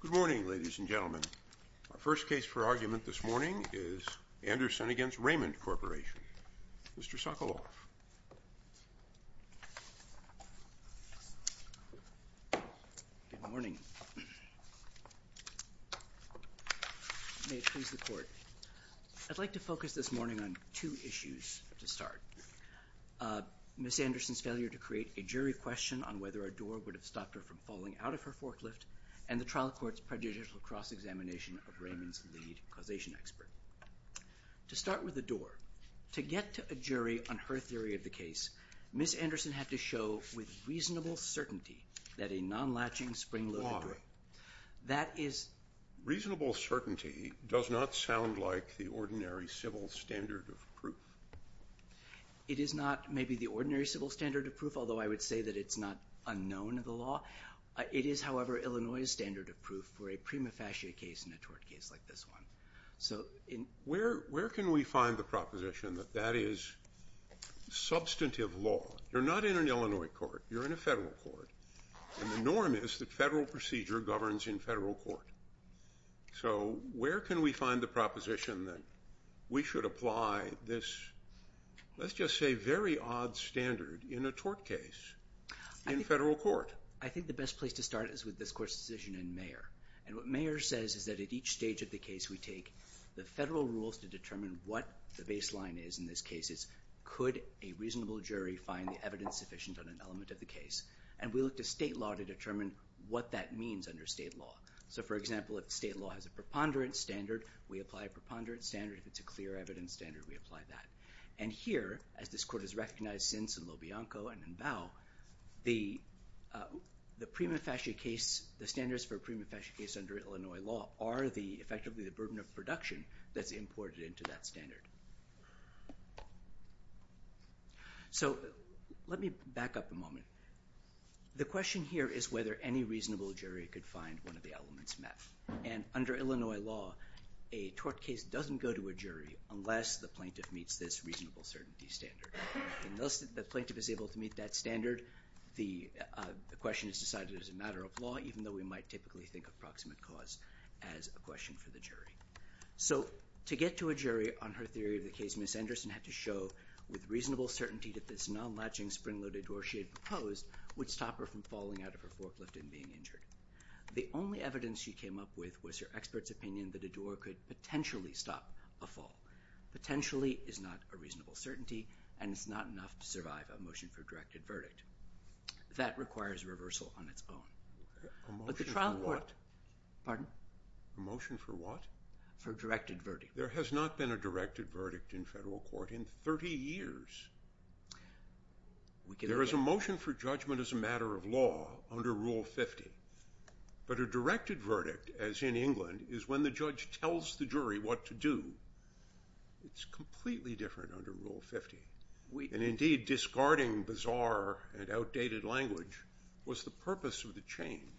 Good morning, ladies and gentlemen. Our first case for argument this morning is Anderson v. Raymond Corporation. Mr. Sokoloff. Good morning. May it please the Court. I'd like to focus this morning on two issues to start. Ms. Anderson's failure to create a jury question on whether a door would have stopped her from falling out of her forklift, and the trial court's prejudicial cross-examination of Raymond's lead causation expert. To start with the door, to get to a jury on her theory of the case, Ms. Anderson had to show with reasonable certainty that a non-latching spring-loaded door... Why? That is... Reasonable certainty does not sound like the ordinary civil standard of proof. It is not maybe the ordinary civil standard of proof, although I would say that it's not unknown in the law. It is, however, Illinois' standard of proof for a prima facie case in a tort case like this one. So... Where can we find the proposition that that is substantive law? You're not in an Illinois court. You're in a federal court. And the norm is that federal procedure governs in federal court. So where can we find the proposition that we should apply this, let's just say, very odd standard in a tort case in federal court? I think the best place to start is with this court's decision in Mayer. And what Mayer says is that at each stage of the case, we take the federal rules to determine what the baseline is in this case. It's could a reasonable jury find the evidence sufficient on an element of the case? And we look to state law to determine what that means under state law. So, for example, if state law has a preponderance standard, we apply a preponderance standard. If it's a clear evidence standard, we apply that. And here, as this court has recognized since in Lobianco and in Bao, the prima facie case, the standards for a prima facie case under Illinois law are effectively the burden of production that's imported into that standard. So let me back up a moment. The question here is whether any reasonable jury could find one of the elements met. And under Illinois law, a tort case doesn't go to a jury unless the plaintiff meets this reasonable certainty standard. And thus, if the plaintiff is able to meet that standard, the question is decided as a matter of law, even though we might typically think of proximate cause as a question for the jury. So to get to a jury on her theory of the case, Ms. Anderson had to show with reasonable certainty that this non-latching spring-loaded dorsier proposed would stop her from falling out of her forklift and being injured. The only evidence she came up with was her expert's opinion that a door could potentially stop a fall. Potentially is not a reasonable certainty, and it's not enough to survive a motion for directed verdict. That requires reversal on its own. A motion for what? Pardon? A motion for what? For directed verdict. There has not been a directed verdict in federal court in 30 years. There is a motion for judgment as a matter of law under Rule 50. But a directed verdict, as in England, is when the judge tells the jury what to do. It's completely different under Rule 50. And indeed, discarding bizarre and outdated language was the purpose of the change.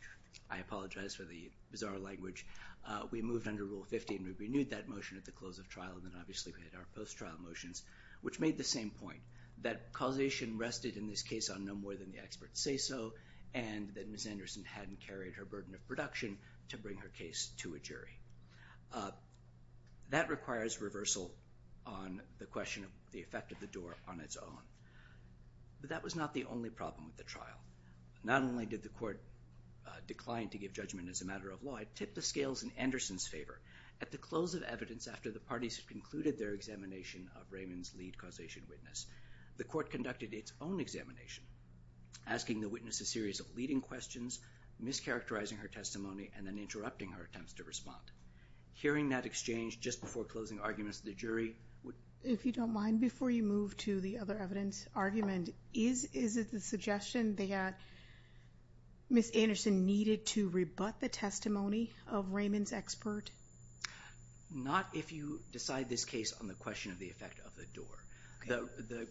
I apologize for the bizarre language. We moved under Rule 50, and we renewed that motion at the close of trial, and then obviously we had our post-trial motions, which made the same point, that causation rested in this case on no more than the experts say so, and that Ms. Anderson hadn't carried her burden of production to bring her case to a jury. That requires reversal on the question of the effect of the door on its own. But that was not the only problem with the trial. Not only did the court decline to give judgment as a matter of law, it tipped the scales in Anderson's favor. At the close of evidence after the parties had concluded their examination of Raymond's lead causation witness, the court conducted its own examination, asking the witness a series of leading questions, mischaracterizing her testimony, and then interrupting her attempts to respond. Hearing that exchange just before closing arguments, the jury would... If you don't mind, before you move to the other evidence argument, is it the suggestion that Ms. Anderson needed to rebut the testimony of Raymond's expert? Not if you decide this case on the question of the effect of the door.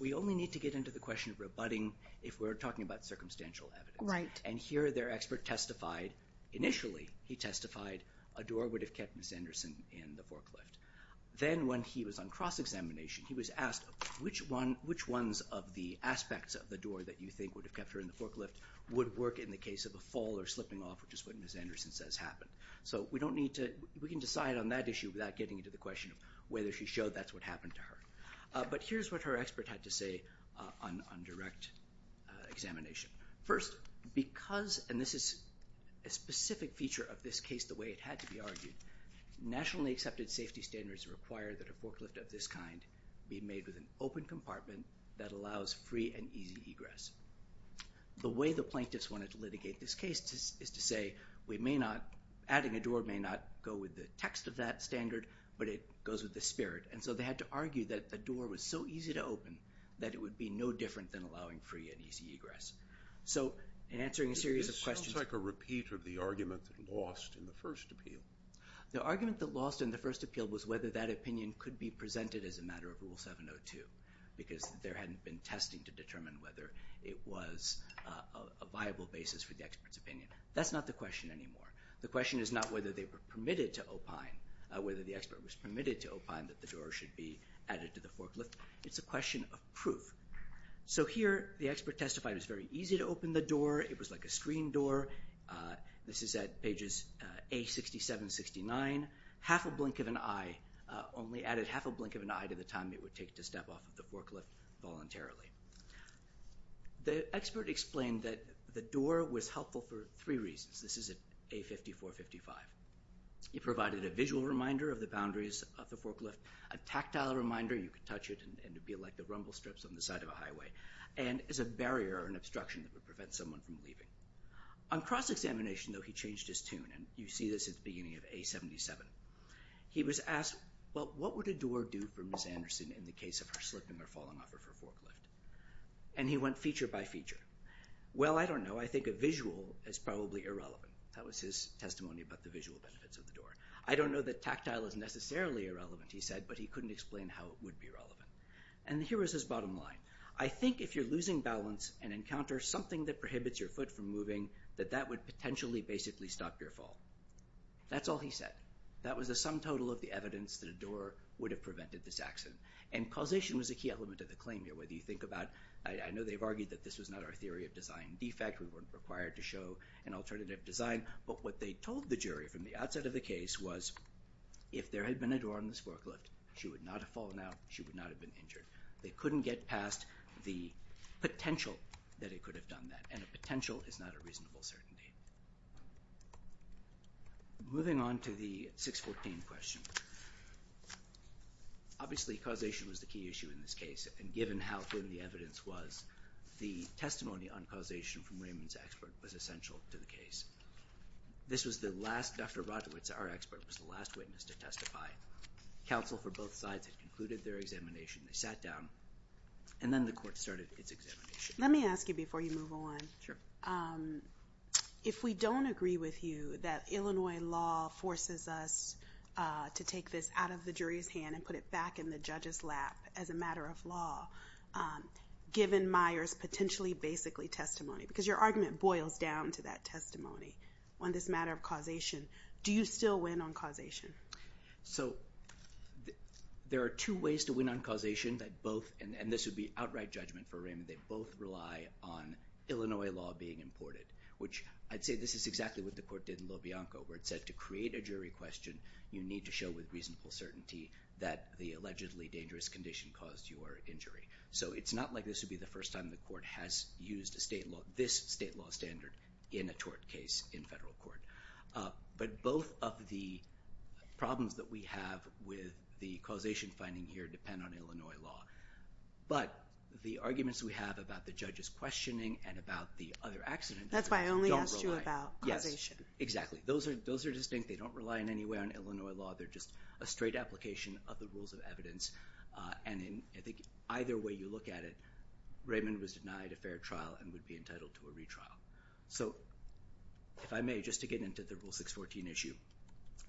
We only need to get into the question of rebutting if we're talking about circumstantial evidence. And here their expert testified, initially he testified, a door would have kept Ms. Anderson in the forklift. Then when he was on cross-examination, he was asked, which ones of the aspects of the door that you think would have kept her in the forklift would work in the case of fall or slipping off, which is what Ms. Anderson says happened. So we don't need to, we can decide on that issue without getting into the question of whether she showed that's what happened to her. But here's what her expert had to say on direct examination. First, because, and this is a specific feature of this case the way it had to be argued, nationally accepted safety standards require that a forklift of this kind be made with an open compartment that allows free and easy egress. The way the plaintiffs wanted to litigate this case is to say we may not, adding a door may not go with the text of that standard, but it goes with the spirit. And so they had to argue that the door was so easy to open that it would be no different than allowing free and easy egress. So in answering a series of questions... This sounds like a repeat of the argument that lost in the first appeal. The argument that lost in the first appeal was whether that opinion could be presented as a matter of Rule 702, because there hadn't been testing to determine whether it was a viable basis for the expert's opinion. That's not the question anymore. The question is not whether they were permitted to opine, whether the expert was permitted to opine that the door should be added to the forklift. It's a question of proof. So here the expert testified it was very easy to open the door, it was like a screen door. This is at pages A67, 69. Half a blink of an eye, only added half a blink of an eye to the time it would take to step off of the forklift voluntarily. The expert explained that the door was helpful for three reasons. This is at A54, 55. It provided a visual reminder of the boundaries of the forklift, a tactile reminder, you could touch it and it would be like the rumble strips on the side of a highway, and as a barrier or an obstruction that would prevent someone from leaving. On cross-examination, though, he changed his tune, and you see this at the beginning of A77. He was asked, well, what would a door do for Ms. Anderson in the case of her slipping or falling off of her forklift? And he went feature by feature. Well, I don't know, I think a visual is probably irrelevant. That was his testimony about the visual benefits of the door. I don't know that tactile is necessarily irrelevant, he said, but he couldn't explain how it would be relevant. And here was his bottom line. I think if you're losing balance and encounter something that prohibits your foot from moving, that that would potentially basically stop your fall. That's all he said. That was the sum total of the evidence that a door would have prevented this accident. And causation was a key element of the claim here, whether you think about, I know they've argued that this was not our theory of design defect, we weren't required to show an alternative design, but what they told the jury from the outset of the case was if there had been a door on this forklift, she would not have fallen out, she would not have been injured. They couldn't get past the potential that it could have done that, and a potential is not a reasonable certainty. Moving on to the 614 question. Obviously causation was the key issue in this case, and given how good the evidence was, the testimony on causation from Raymond's expert was essential to the case. This was the last, Dr. Radowitz, our expert, was the last witness to testify. Counsel for both sides had concluded their examination, they sat down, and then the court started its examination. Let me ask you before you move on. If we don't agree with you that Illinois law forces us to take this out of the jury's hand and put it back in the judge's lap as a matter of law, given Myers' potentially basically testimony, because your argument boils down to that testimony on this matter of causation, do you still win on causation? So, there are two ways to win on causation that both, and this would be outright judgment for Raymond, they both rely on Illinois law being imported, which I'd say this is exactly what the court did in Lobianco, where it said to create a jury question, you need to show with reasonable certainty that the allegedly dangerous condition caused your injury. So it's not like this would be the first time the court has used this state law standard in a tort case in federal court. But both of the problems that we have with the causation finding here depend on Illinois law. But the arguments we have about the judge's questioning and about the other accidents don't rely. That's why I only asked you about causation. Yes. Exactly. Those are distinct. They don't rely in any way on Illinois law. They're just a straight application of the rules of evidence, and I think either way you look at it, Raymond was denied a fair trial and would be entitled to a retrial. So if I may, just to get into the Rule 614 issue,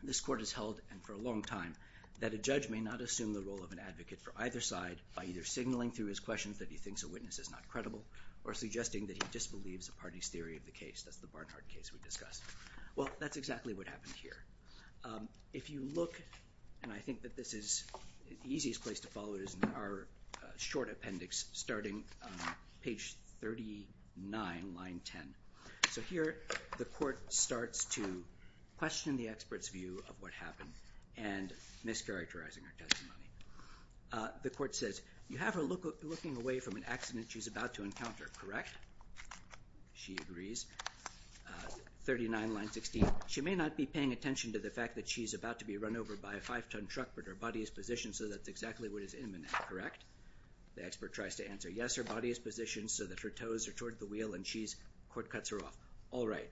this court has held, and for a long time, that a judge may not assume the role of an advocate for either side by either signaling through his questions that he thinks a witness is not credible, or suggesting that he disbelieves a party's theory of the case, that's the Barnhart case we discussed. Well that's exactly what happened here. If you look, and I think that this is, the easiest place to follow it is in our short appendix starting on page 39, line 10. So here the court starts to question the expert's view of what happened, and mischaracterizing her testimony. The court says, you have her looking away from an accident she's about to encounter, correct? She agrees. Page 39, line 16, she may not be paying attention to the fact that she's about to be run over by a five-ton truck, but her body is positioned so that's exactly what is imminent, correct? The expert tries to answer, yes, her body is positioned so that her toes are toward the wheel, and she's, court cuts her off, all right.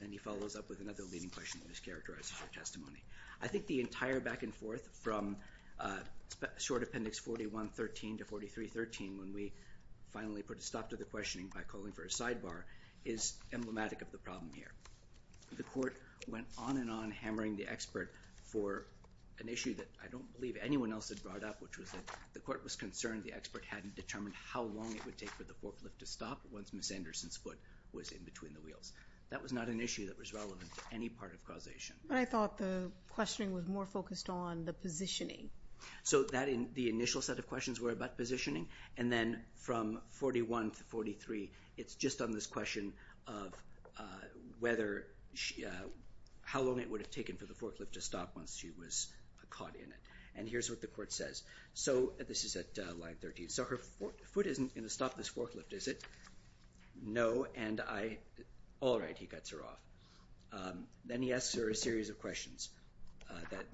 And he follows up with another leading question that mischaracterizes her testimony. I think the entire back and forth from short appendix 41-13 to 43-13, when we finally put the questioning by calling for a sidebar, is emblematic of the problem here. The court went on and on hammering the expert for an issue that I don't believe anyone else had brought up, which was that the court was concerned the expert hadn't determined how long it would take for the forklift to stop once Ms. Anderson's foot was in between the That was not an issue that was relevant to any part of causation. But I thought the questioning was more focused on the positioning. So that in the initial set of questions were about positioning, and then from 41 to 43, it's just on this question of whether, how long it would have taken for the forklift to stop once she was caught in it. And here's what the court says. So this is at line 13, so her foot isn't going to stop this forklift, is it? No, and I, all right, he cuts her off. Then he asks her a series of questions that,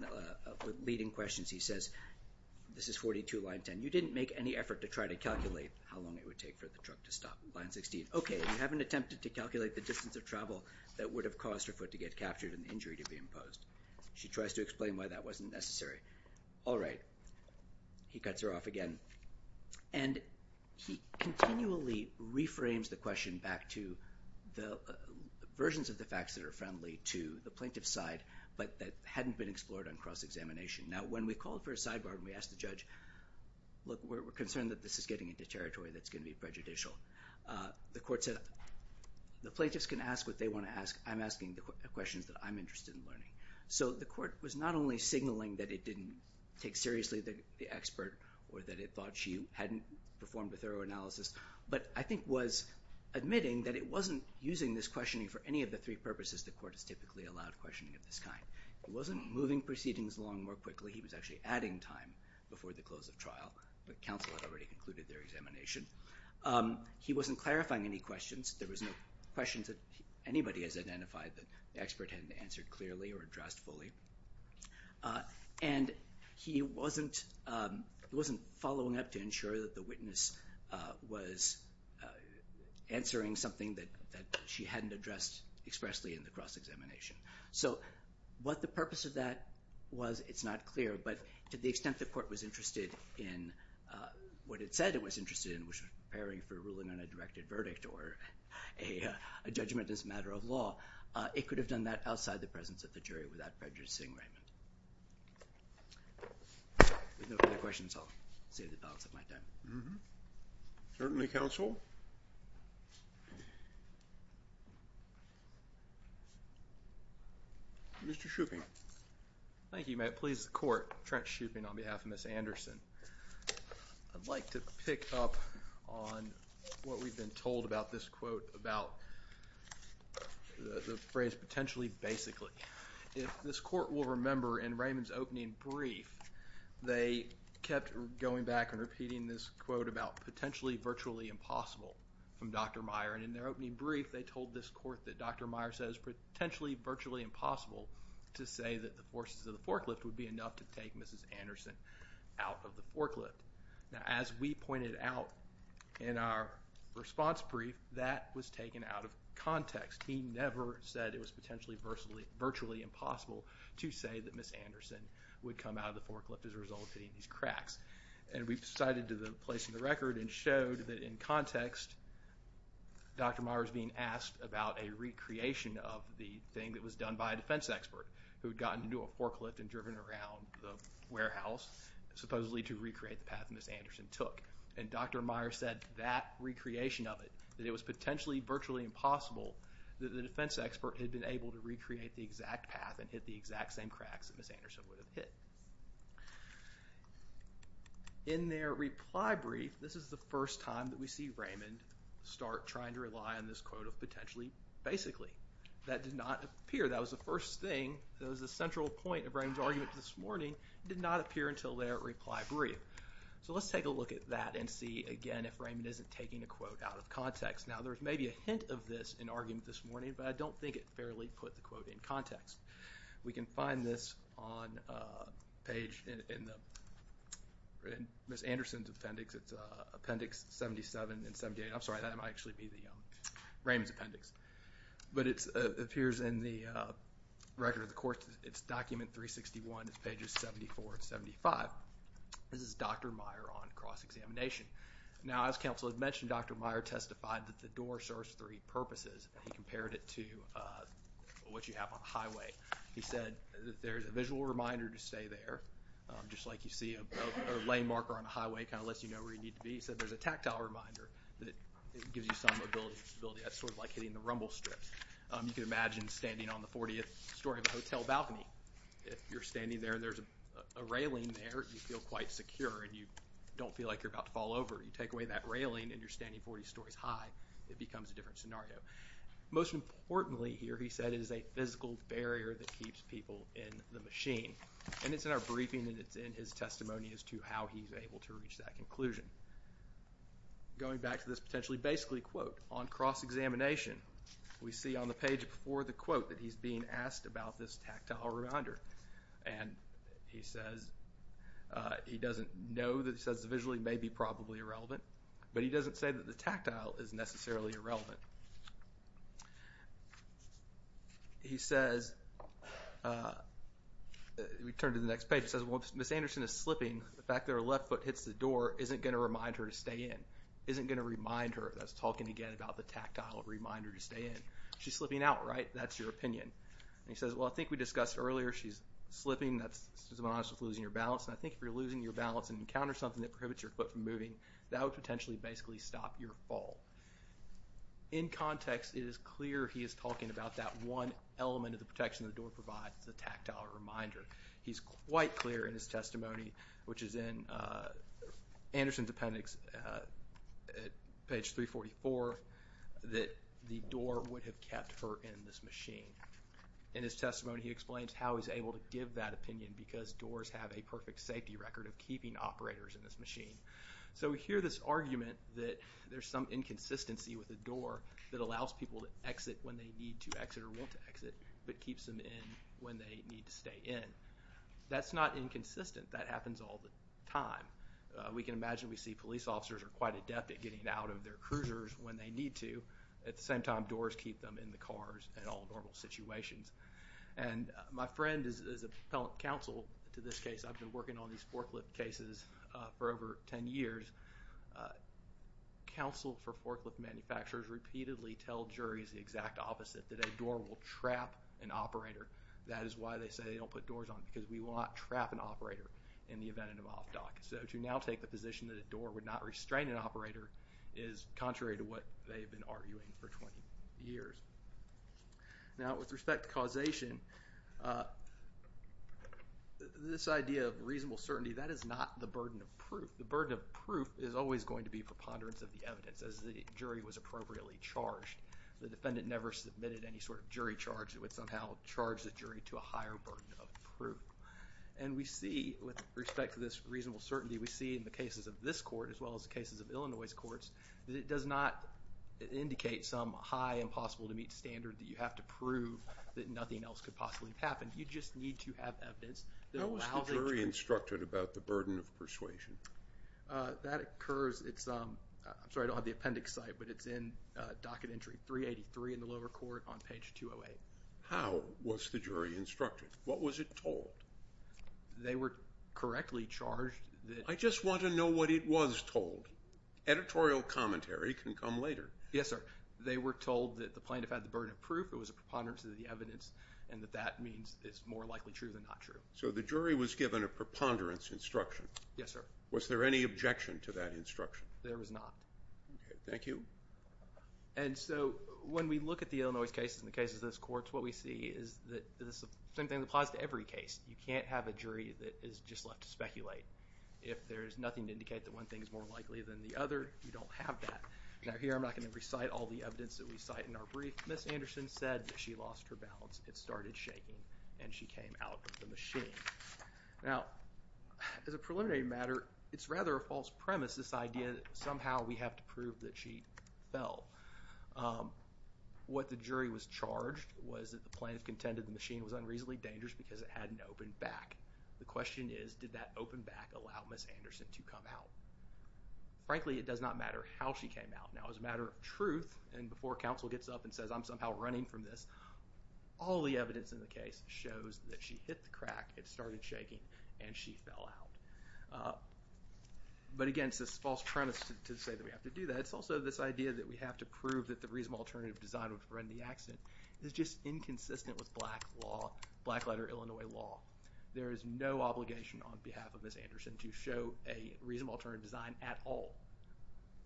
leading questions. He says, this is 42 line 10, you didn't make any effort to try to calculate how long it would take for the truck to stop, line 16. Okay, you haven't attempted to calculate the distance of travel that would have caused her foot to get captured and the injury to be imposed. She tries to explain why that wasn't necessary. All right, he cuts her off again. And he continually reframes the question back to the versions of the facts that are friendly to the plaintiff's side, but that hadn't been explored on cross-examination. Now, when we called for a sidebar and we asked the judge, look, we're concerned that this is getting into territory that's going to be prejudicial, the court said, the plaintiffs can ask what they want to ask. I'm asking the questions that I'm interested in learning. So the court was not only signaling that it didn't take seriously the expert or that it thought she hadn't performed a thorough analysis, but I think was admitting that it wasn't using this questioning for any of the three purposes the court is typically allowed questioning of this kind. It wasn't moving proceedings along more quickly, he was actually adding time before the close of trial, but counsel had already concluded their examination. He wasn't clarifying any questions, there was no questions that anybody has identified that the expert hadn't answered clearly or addressed fully. And he wasn't following up to ensure that the witness was answering something that she hadn't addressed expressly in the cross-examination. So what the purpose of that was, it's not clear, but to the extent the court was interested in what it said it was interested in, which was preparing for ruling on a directed verdict or a judgment as a matter of law, it could have done that outside the presence of the jury without prejudicing Raymond. If there are no further questions, I'll save the balance of my time. Certainly, counsel. Mr. Shoeping. Thank you. May it please the court, Trent Shoeping on behalf of Ms. Anderson. I'd like to pick up on what we've been told about this quote, about the phrase potentially basically. If this court will remember in Raymond's opening brief, they kept going back and repeating this quote about potentially virtually impossible from Dr. Meyer. And in their opening brief, they told this court that Dr. Meyer says potentially virtually impossible to say that the forces of the forklift would be enough to take Mrs. Anderson out of the forklift. Now as we pointed out in our response brief, that was taken out of context. He never said it was potentially virtually impossible to say that Ms. Anderson would come out of the forklift as a result of hitting these cracks. And we've cited to the place in the record and showed that in context, Dr. Meyer is being asked about a recreation of the thing that was done by a defense expert who had gotten into a forklift and driven around the warehouse supposedly to recreate the path that Ms. Anderson took. And Dr. Meyer said that recreation of it, that it was potentially virtually impossible that the defense expert had been able to recreate the exact path and hit the exact same cracks that Ms. Anderson would have hit. In their reply brief, this is the first time that we see Raymond start trying to rely on this quote of potentially basically. That did not appear. That was the first thing. That was the central point of Raymond's argument this morning. It did not appear until their reply brief. So let's take a look at that and see again if Raymond isn't taking a quote out of context. Now there's maybe a hint of this in argument this morning, but I don't think it fairly put the quote in context. We can find this on a page in Ms. Anderson's appendix. It's appendix 77 and 78. I'm sorry, that might actually be Raymond's appendix. But it appears in the record of the court. It's document 361. It's pages 74 and 75. This is Dr. Meyer on cross-examination. Now as counsel had mentioned, Dr. Meyer testified that the door serves three purposes. He compared it to what you have on a highway. He said that there's a visual reminder to stay there, just like you see a lane marker on a highway kind of lets you know where you need to be. He said there's a tactile reminder that gives you some mobility. That's sort of like hitting the rumble strips. You can imagine standing on the 40th story of a hotel balcony. If you're standing there and there's a railing there, you feel quite secure and you don't feel like you're about to fall over. You take away that railing and you're standing 40 stories high. It becomes a different scenario. Most importantly here, he said it is a physical barrier that keeps people in the machine. And it's in our briefing and it's in his testimony as to how he's able to reach that conclusion. Going back to this potentially basically quote, on cross-examination, we see on the page before the quote that he's being asked about this tactile reminder. And he says he doesn't know. He says visually it may be probably irrelevant. But he doesn't say that the tactile is necessarily irrelevant. He says, we turn to the next page. He says, well, Ms. Anderson is slipping. The fact that her left foot hits the door isn't going to remind her to stay in. Isn't going to remind her. That's talking again about the tactile reminder to stay in. She's slipping out, right? That's your opinion. And he says, well, I think we discussed earlier. She's slipping. That's someone else who's losing her balance. And I think if you're losing your balance and encounter something that prohibits your foot from moving, that would potentially basically stop your fall. In context, it is clear he is talking about that one element of the protection the door provides, the tactile reminder. He's quite clear in his testimony, which is in Anderson's appendix at page 344, that the door would have kept her in this machine. In his testimony, he explains how he's able to give that opinion because doors have a perfect safety record of keeping operators in this machine. So we hear this argument that there's some inconsistency with the door that allows people to exit when they need to exit or want to exit, but keeps them in when they need to stay in. That's not inconsistent. That happens all the time. We can imagine we see police officers are quite adept at getting out of their cruisers when they need to. At the same time, doors keep them in the cars in all normal situations. And my friend is a counsel to this case. I've been working on these forklift cases for over 10 years. Counsel for forklift manufacturers repeatedly tell juries the exact opposite, that a door will trap an operator. That is why they say they don't put doors on it, because we will not trap an operator in the event of an off-dock. So to now take the position that a door would not restrain an operator is contrary to what they've been arguing for 20 years. Now, with respect to causation, this idea of reasonable certainty, that is not the burden of proof. The burden of proof is always going to be preponderance of the evidence. As the jury was appropriately charged, the defendant never submitted any sort of jury charge that would somehow charge the jury to a higher burden of proof. And we see, with respect to this reasonable certainty, we see in the cases of this court as well as the cases of Illinois courts, that it does not indicate some high impossible to meet standard that you have to prove that nothing else could possibly have happened. You just need to have evidence that allows it to be true. How was the jury instructed about the burden of persuasion? That occurs, it's, I'm sorry I don't have the appendix site, but it's in docket entry 383 in the lower court on page 208. How was the jury instructed? What was it told? They were correctly charged. I just want to know what it was told. Editorial commentary can come later. Yes, sir. They were told that the plaintiff had the burden of proof, it was a preponderance of the evidence, and that that means it's more likely true than not true. So the jury was given a preponderance instruction. Yes, sir. Was there any objection to that instruction? There was not. Okay, thank you. And so when we look at the Illinois cases and the cases of this court, what we see is the same thing applies to every case. You can't have a jury that is just left to speculate. If there's nothing to indicate that one thing is more likely than the other, you don't have that. Now here I'm not going to recite all the evidence that we cite in our brief. Ms. Anderson said that she lost her balance, it started shaking, and she came out with the machine. Now, as a preliminary matter, it's rather a false premise, this idea that somehow we have to prove that she fell. What the jury was charged was that the plaintiff contended the machine was unreasonably dangerous because it hadn't opened back. The question is, did that open back allow Ms. Anderson to come out? Frankly, it does not matter how she came out. Now, as a matter of truth, and before counsel gets up and says, I'm somehow running from this, all the evidence in the case shows that she hit the crack, it started shaking, and she fell out. But again, it's this false premise to say that we have to do that. But it's also this idea that we have to prove that the reasonable alternative design would prevent the accident is just inconsistent with black law, black letter Illinois law. There is no obligation on behalf of Ms. Anderson to show a reasonable alternative design at all.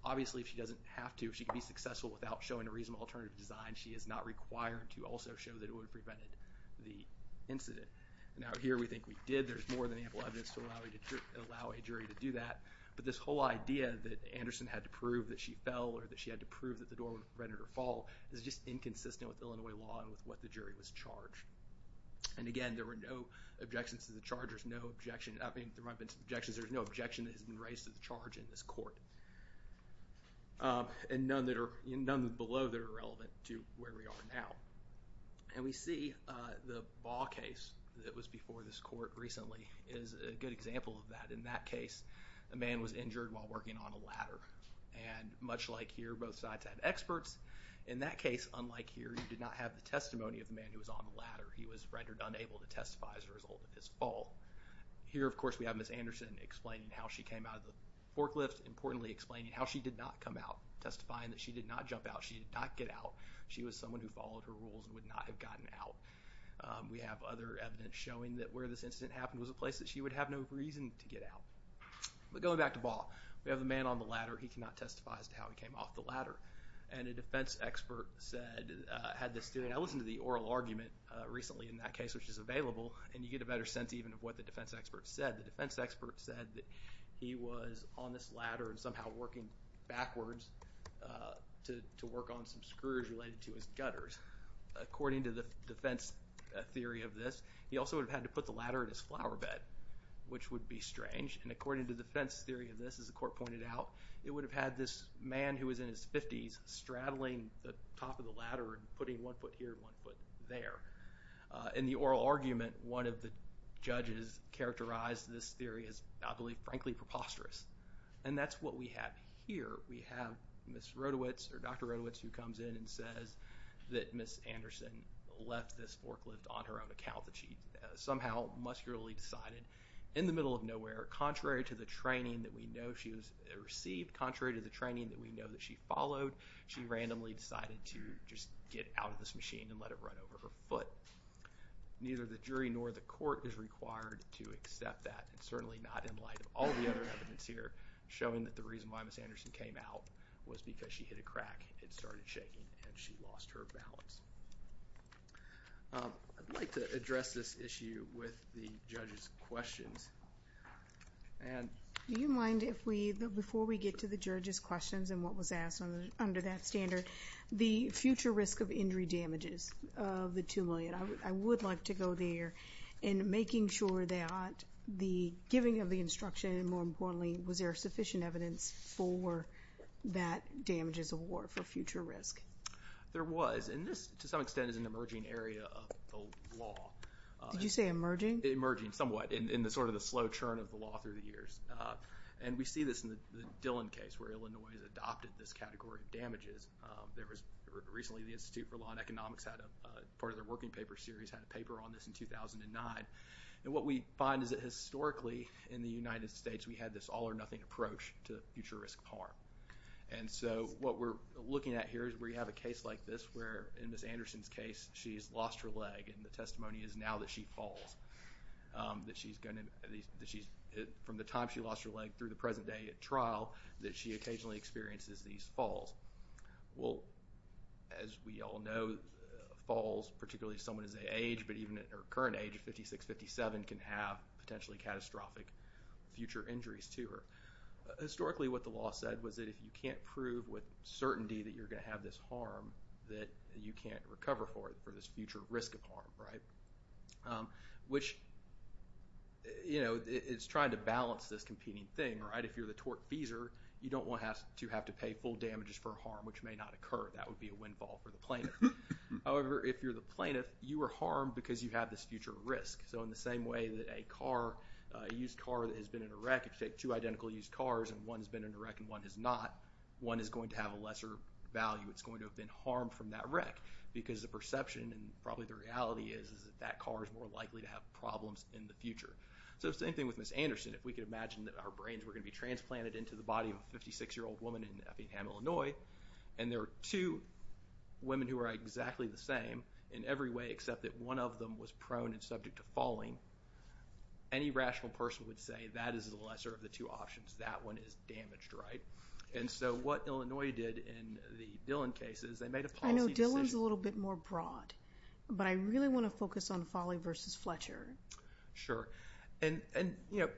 Obviously, if she doesn't have to, if she can be successful without showing a reasonable alternative design, she is not required to also show that it would have prevented the incident. Now, here we think we did. There's more than ample evidence to allow a jury to do that. But this whole idea that Anderson had to prove that she fell or that she had to prove that the door would prevent her fall is just inconsistent with Illinois law and with what the jury was charged. And again, there were no objections to the charge. There's no objection. I mean, there might have been some objections. There's no objection that has been raised to the charge in this court. And none below that are relevant to where we are now. And we see the Baugh case that was before this court recently is a good example of that. In that case, a man was injured while working on a ladder. And much like here, both sides had experts. In that case, unlike here, you did not have the testimony of the man who was on the ladder. He was rendered unable to testify as a result of his fall. Here, of course, we have Ms. Anderson explaining how she came out of the forklift, importantly explaining how she did not come out, testifying that she did not jump out. She did not get out. She was someone who followed her rules and would not have gotten out. We have other evidence showing that where this incident happened was a place that she would have no reason to get out. But going back to Baugh, we have the man on the ladder. He cannot testify as to how he came off the ladder. And a defense expert said, had this theory. And I listened to the oral argument recently in that case, which is available, and you get a better sense even of what the defense expert said. The defense expert said that he was on this ladder and somehow working backwards to work on some screws related to his gutters. According to the defense theory of this, he also would have had to put the ladder in his flower bed, which would be strange. And according to defense theory of this, as the court pointed out, it would have had this man who was in his 50s straddling the top of the ladder and putting one foot here and one foot there. In the oral argument, one of the judges characterized this theory as, I believe, frankly preposterous. And that's what we have here. We have Ms. Rodowicz, or Dr. Rodowicz, who comes in and says that Ms. Anderson left this forklift on her own account that she somehow muscularly decided in the middle of nowhere, contrary to the training that we know she received, contrary to the training that we know that she followed, she randomly decided to just get out of this machine and let it run over her foot. Neither the jury nor the court is required to accept that, and certainly not in light of all the other evidence here showing that the reason why Ms. Anderson came out was because she hit a crack and started shaking and she lost her balance. I'd like to address this issue with the judges' questions. Do you mind if we, before we get to the judges' questions and what was asked under that standard, the future risk of injury damages of the 2 million? I would like to go there in making sure that the giving of the instruction, and more importantly, was there sufficient evidence for that damages award for future risk? There was, and this, to some extent, is an emerging area of the law. Did you say emerging? Emerging, somewhat, in sort of the slow churn of the law through the years. And we see this in the Dillon case where Illinois has adopted this category of damages. There was recently the Institute for Law and Economics had a, part of their working paper series had a paper on this in 2009. And what we find is that historically, in the United States, we had this all-or-nothing approach to future risk of harm. And so what we're looking at here is we have a case like this where, in Ms. Anderson's case, she's lost her leg and the testimony is now that she falls, that she's going to, from the time she lost her leg through the present day at trial, that she occasionally experiences these falls. Well, as we all know, falls, particularly if someone is their age, but even at their current age of 56, 57, can have potentially catastrophic future injuries too. Historically, what the law said was that if you can't prove with certainty that you're going to have this harm, that you can't recover for it, for this future risk of harm, right? Which, you know, it's trying to balance this competing thing, right? If you're the tortfeasor, you don't want to have to pay full damages for harm, which may not occur. That would be a windfall for the plaintiff. However, if you're the plaintiff, you are harmed because you have this future risk. So in the same way that a car, a used car that has been in a wreck, if you take two identical used cars and one has been in a wreck and one has not, one is going to have a lesser value. It's going to have been harmed from that wreck because the perception and probably the reality is that that car is more likely to have problems in the future. So same thing with Ms. Anderson. If we could imagine that our brains were going to be transplanted into the body of a 56-year-old woman in Effingham, Illinois, and there are two women who are exactly the same in every way, except that one of them was prone and subject to falling, any rational person would say that is the lesser of the two options. That one is damaged, right? And so what Illinois did in the Dillon case is they made a policy decision. I know Dillon's a little bit more broad, but I really want to focus on Foley versus Fletcher. Sure. And, you know,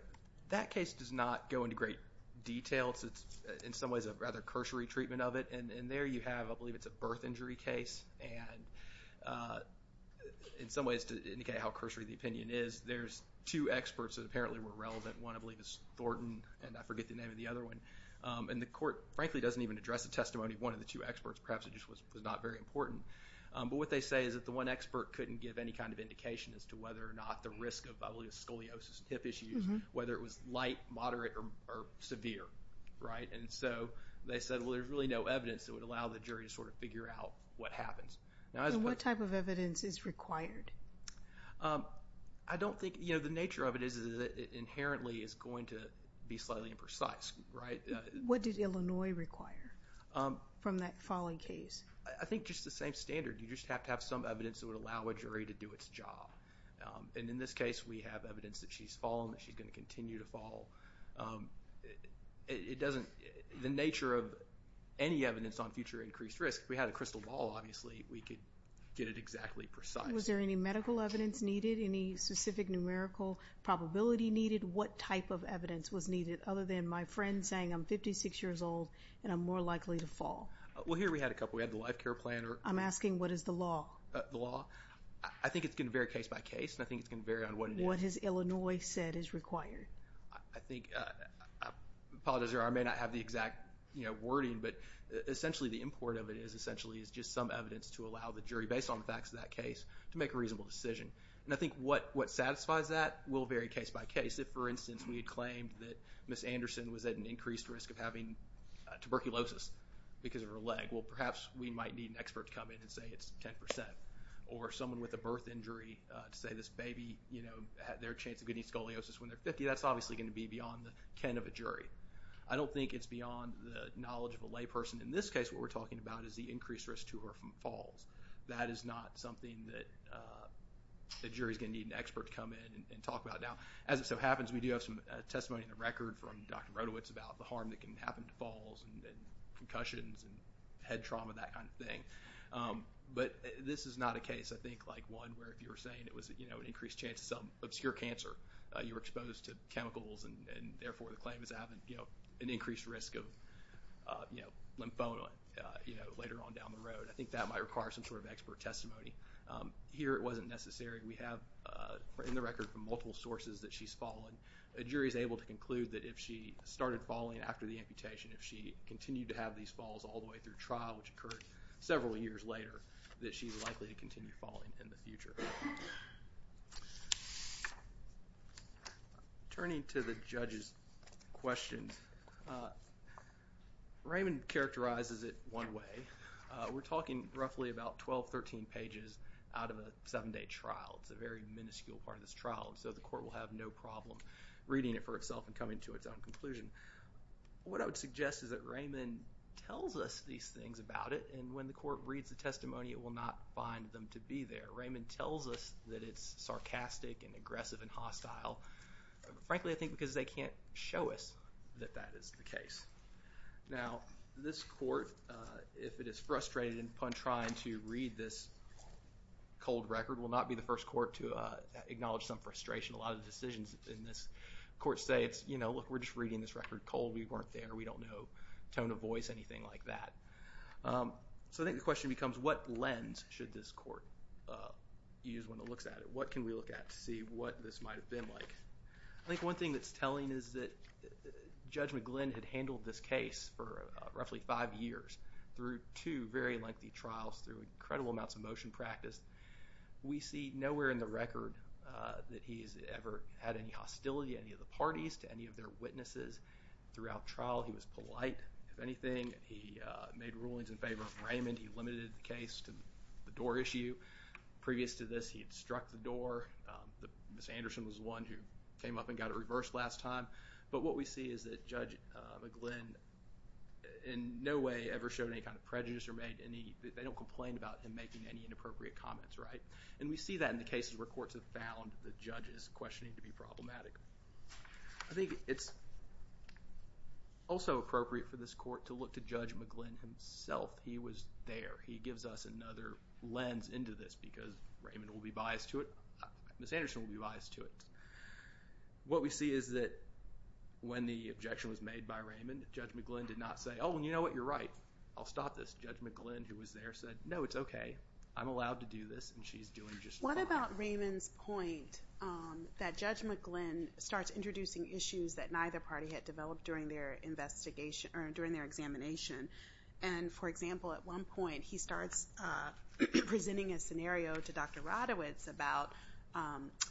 that case does not go into great detail. It's in some ways a rather cursory treatment of it. And there you have, I believe, it's a birth injury case. And in some ways to indicate how cursory the opinion is, there's two experts that apparently were relevant. One, I believe, is Thornton, and I forget the name of the other one. And the court, frankly, doesn't even address the testimony of one of the two experts. Perhaps it just was not very important. But what they say is that the one expert couldn't give any kind of indication as to whether or not the risk of, I believe, scoliosis and hip issues, whether it was light, moderate, or severe, right? And so they said, well, there's really no evidence that would allow the jury to sort of figure out what happens. And what type of evidence is required? I don't think, you know, the nature of it is that it inherently is going to be slightly imprecise, right? What did Illinois require from that Foley case? I think just the same standard. You just have to have some evidence that would allow a jury to do its job. And in this case, we have evidence that she's fallen, that she's going to continue to fall. It doesn't – the nature of any evidence on future increased risk, if we had a crystal ball, obviously, we could get it exactly precise. Was there any medical evidence needed, any specific numerical probability needed? What type of evidence was needed other than my friend saying I'm 56 years old and I'm more likely to fall? Well, here we had a couple. We had the life care plan. I'm asking what is the law? The law? I think it's going to vary case by case, and I think it's going to vary on what it is. What has Illinois said is required? I think – I apologize, Your Honor, I may not have the exact, you know, wording, but essentially the import of it is essentially is just some evidence to allow the jury, based on the facts of that case, to make a reasonable decision. And I think what satisfies that will vary case by case. If, for instance, we had claimed that Ms. Anderson was at an increased risk of having tuberculosis because of her leg, well, perhaps we might need an expert to come in and say it's 10%, or someone with a birth injury to say this baby, you know, had their chance of getting scoliosis when they're 50. That's obviously going to be beyond the ken of a jury. I don't think it's beyond the knowledge of a layperson. In this case, what we're talking about is the increased risk to her from falls. That is not something that a jury is going to need an expert to come in and talk about. Now, as it so happens, we do have some testimony in the record from Dr. Rodowitz about the harm that can happen to falls and concussions and head trauma, that kind of thing. But this is not a case, I think, like one where if you were saying it was, you know, an increased chance of some obscure cancer, you were exposed to chemicals and therefore the claim is having, you know, an increased risk of, you know, lymphoma, you know, later on down the road. I think that might require some sort of expert testimony. Here it wasn't necessary. We have in the record from multiple sources that she's fallen. A jury is able to conclude that if she started falling after the amputation, if she continued to have these falls all the way through trial, which occurred several years later, that she's likely to continue falling in the future. Turning to the judge's questions, Raymond characterizes it one way. We're talking roughly about 12, 13 pages out of a seven-day trial. It's a very minuscule part of this trial. And so the court will have no problem reading it for itself and coming to its own conclusion. What I would suggest is that Raymond tells us these things about it. And when the court reads the testimony, it will not find them to be there. Raymond tells us that it's sarcastic and aggressive and hostile. Frankly, I think because they can't show us that that is the case. Now, this court, if it is frustrated upon trying to read this cold record, will not be the first court to acknowledge some frustration. A lot of decisions in this court say it's, you know, look, we're just reading this record cold. We weren't there. We don't know tone of voice, anything like that. So I think the question becomes, what lens should this court use when it looks at it? What can we look at to see what this might have been like? I think one thing that's telling is that Judge McGlynn had handled this case for roughly five years through two very lengthy trials, through incredible amounts of motion practice. We see nowhere in the record that he's ever had any hostility to any of the parties, to any of their witnesses. Throughout trial, he was polite, if anything. He made rulings in favor of Raymond. He limited the case to the door issue. Previous to this, he had struck the door. Ms. Anderson was the one who came up and got it reversed last time. But what we see is that Judge McGlynn in no way ever showed any kind of prejudice or made any— they don't complain about him making any inappropriate comments, right? And we see that in the cases where courts have found the judges questioning to be problematic. I think it's also appropriate for this court to look to Judge McGlynn himself. He was there. He gives us another lens into this because Raymond will be biased to it. Ms. Anderson will be biased to it. What we see is that when the objection was made by Raymond, Judge McGlynn did not say, oh, you know what? You're right. I'll stop this. Judge McGlynn, who was there, said, no, it's okay. I'm allowed to do this, and she's doing just fine. What about Raymond's point that Judge McGlynn starts introducing issues that neither party had developed during their examination? And, for example, at one point, he starts presenting a scenario to Dr. Radowitz about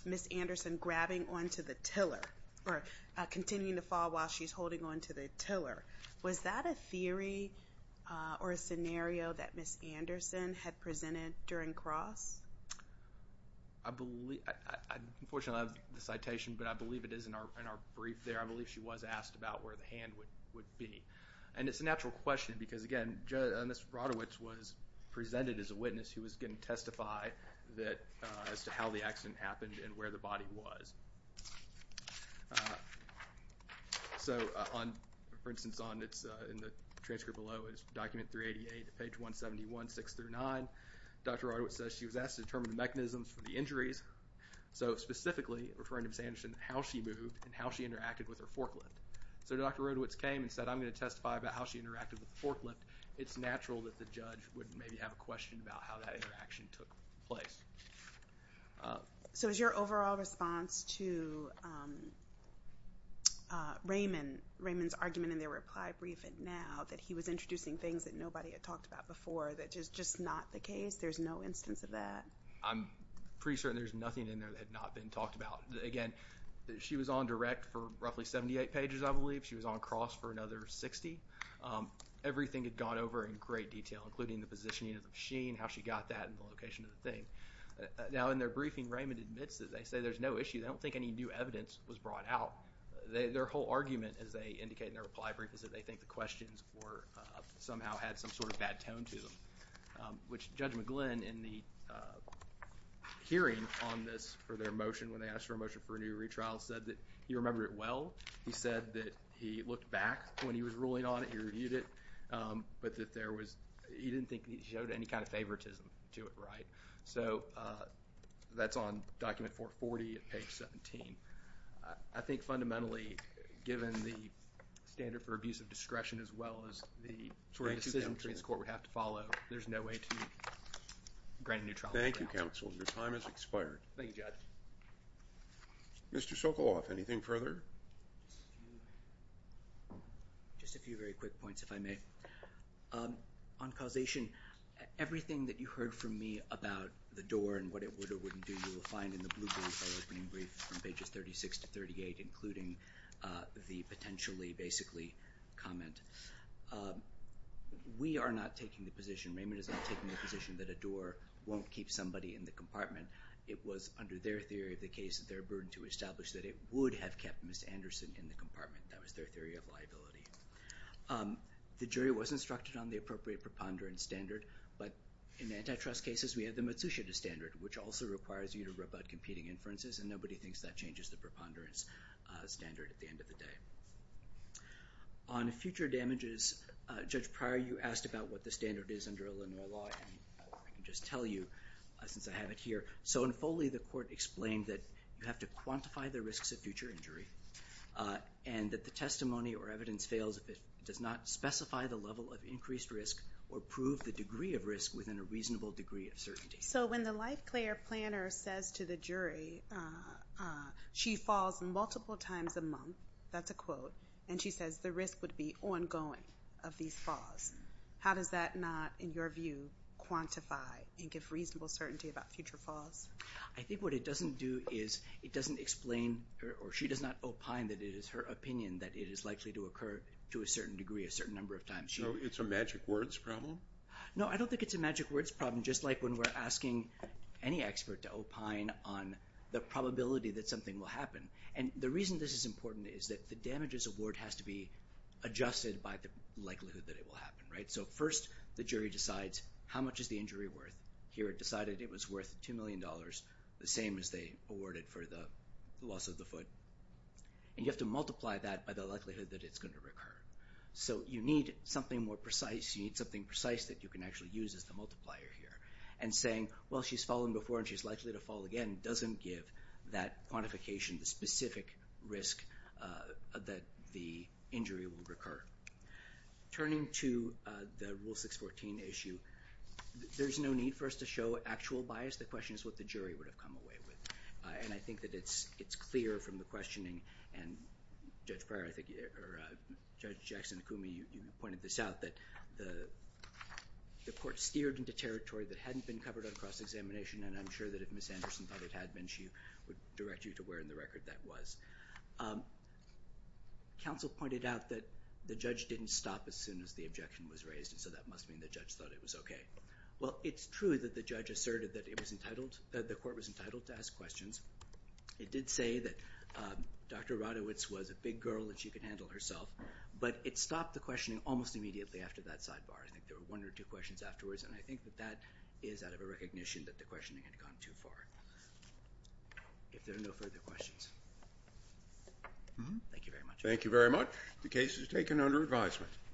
Ms. Anderson grabbing onto the tiller or continuing to fall while she's holding onto the tiller. Was that a theory or a scenario that Ms. Anderson had presented during cross? Unfortunately, I don't have the citation, but I believe it is in our brief there. I believe she was asked about where the hand would be. And it's a natural question because, again, Ms. Radowitz was presented as a witness who was going to testify as to how the accident happened and where the body was. So, for instance, in the transcript below is document 388, page 171, 6 through 9. Dr. Radowitz says she was asked to determine the mechanisms for the injuries, so specifically referring to Ms. Anderson, how she moved and how she interacted with her forklift. So Dr. Radowitz came and said, I'm going to testify about how she interacted with the forklift. It's natural that the judge would maybe have a question about how that interaction took place. So is your overall response to Raymond's argument in their reply brief and now that he was introducing things that nobody had talked about before that is just not the case? There's no instance of that? I'm pretty certain there's nothing in there that had not been talked about. Again, she was on direct for roughly 78 pages, I believe. She was on cross for another 60. Everything had gone over in great detail, including the positioning of the machine, how she got that, and the location of the thing. Now, in their briefing, Raymond admits that they say there's no issue. They don't think any new evidence was brought out. Their whole argument, as they indicate in their reply brief, is that they think the questions somehow had some sort of bad tone to them, which Judge McGlynn, in the hearing on this for their motion when they asked for a motion for a new retrial, said that he remembered it well. He said that he looked back when he was ruling on it. He reviewed it, but he didn't think he showed any kind of favoritism to it right. So that's on document 440 at page 17. I think fundamentally, given the standard for abuse of discretion as well as the sort of decision this court would have to follow, there's no way to grant a new trial. Thank you, counsel. Your time has expired. Thank you, Judge. Mr. Sokoloff, anything further? Just a few very quick points, if I may. On causation, everything that you heard from me about the door and what it would or wouldn't do you will find in the blue brief, our opening brief from pages 36 to 38, including the potentially, basically, comment. We are not taking the position, Raymond is not taking the position, that a door won't keep somebody in the compartment. It was, under their theory of the case, their burden to establish that it would have kept Ms. Anderson in the compartment. That was their theory of liability. The jury was instructed on the appropriate preponderance standard, but in antitrust cases, we have the Matsushita standard, which also requires you to rub out competing inferences, and nobody thinks that changes the preponderance standard at the end of the day. On future damages, Judge Pryor, you asked about what the standard is under Illinois law, and I can just tell you, since I have it here. So in Foley, the court explained that you have to quantify the risks of future injury and that the testimony or evidence fails if it does not specify the level of increased risk or prove the degree of risk within a reasonable degree of certainty. So when the life player planner says to the jury, she falls multiple times a month, that's a quote, and she says the risk would be ongoing of these falls, how does that not, in your view, quantify and give reasonable certainty about future falls? I think what it doesn't do is it doesn't explain or she does not opine that it is her opinion that it is likely to occur to a certain degree a certain number of times. So it's a magic words problem? No, I don't think it's a magic words problem, just like when we're asking any expert to opine on the probability that something will happen. And the reason this is important is that the damages award has to be adjusted by the likelihood that it will happen, right? So first the jury decides how much is the injury worth? Here it decided it was worth $2 million, the same as they awarded for the loss of the foot. And you have to multiply that by the likelihood that it's going to recur. So you need something more precise. You need something precise that you can actually use as the multiplier here. And saying, well, she's fallen before and she's likely to fall again doesn't give that quantification, the specific risk that the injury will recur. Turning to the Rule 614 issue, there's no need for us to show actual bias. The question is what the jury would have come away with. And I think that it's clear from the questioning, and Judge Jackson-Akumi, you pointed this out, that the court steered into territory that hadn't been covered on cross-examination, and I'm sure that if Ms. Anderson thought it had been, she would direct you to where in the record that was. Counsel pointed out that the judge didn't stop as soon as the objection was raised, and so that must mean the judge thought it was okay. Well, it's true that the court was entitled to ask questions. It did say that Dr. Radowitz was a big girl and she could handle herself, but it stopped the questioning almost immediately after that sidebar. I think there were one or two questions afterwards, and I think that that is out of a recognition that the questioning had gone too far. If there are no further questions, thank you very much. Thank you very much. The case is taken under advisement.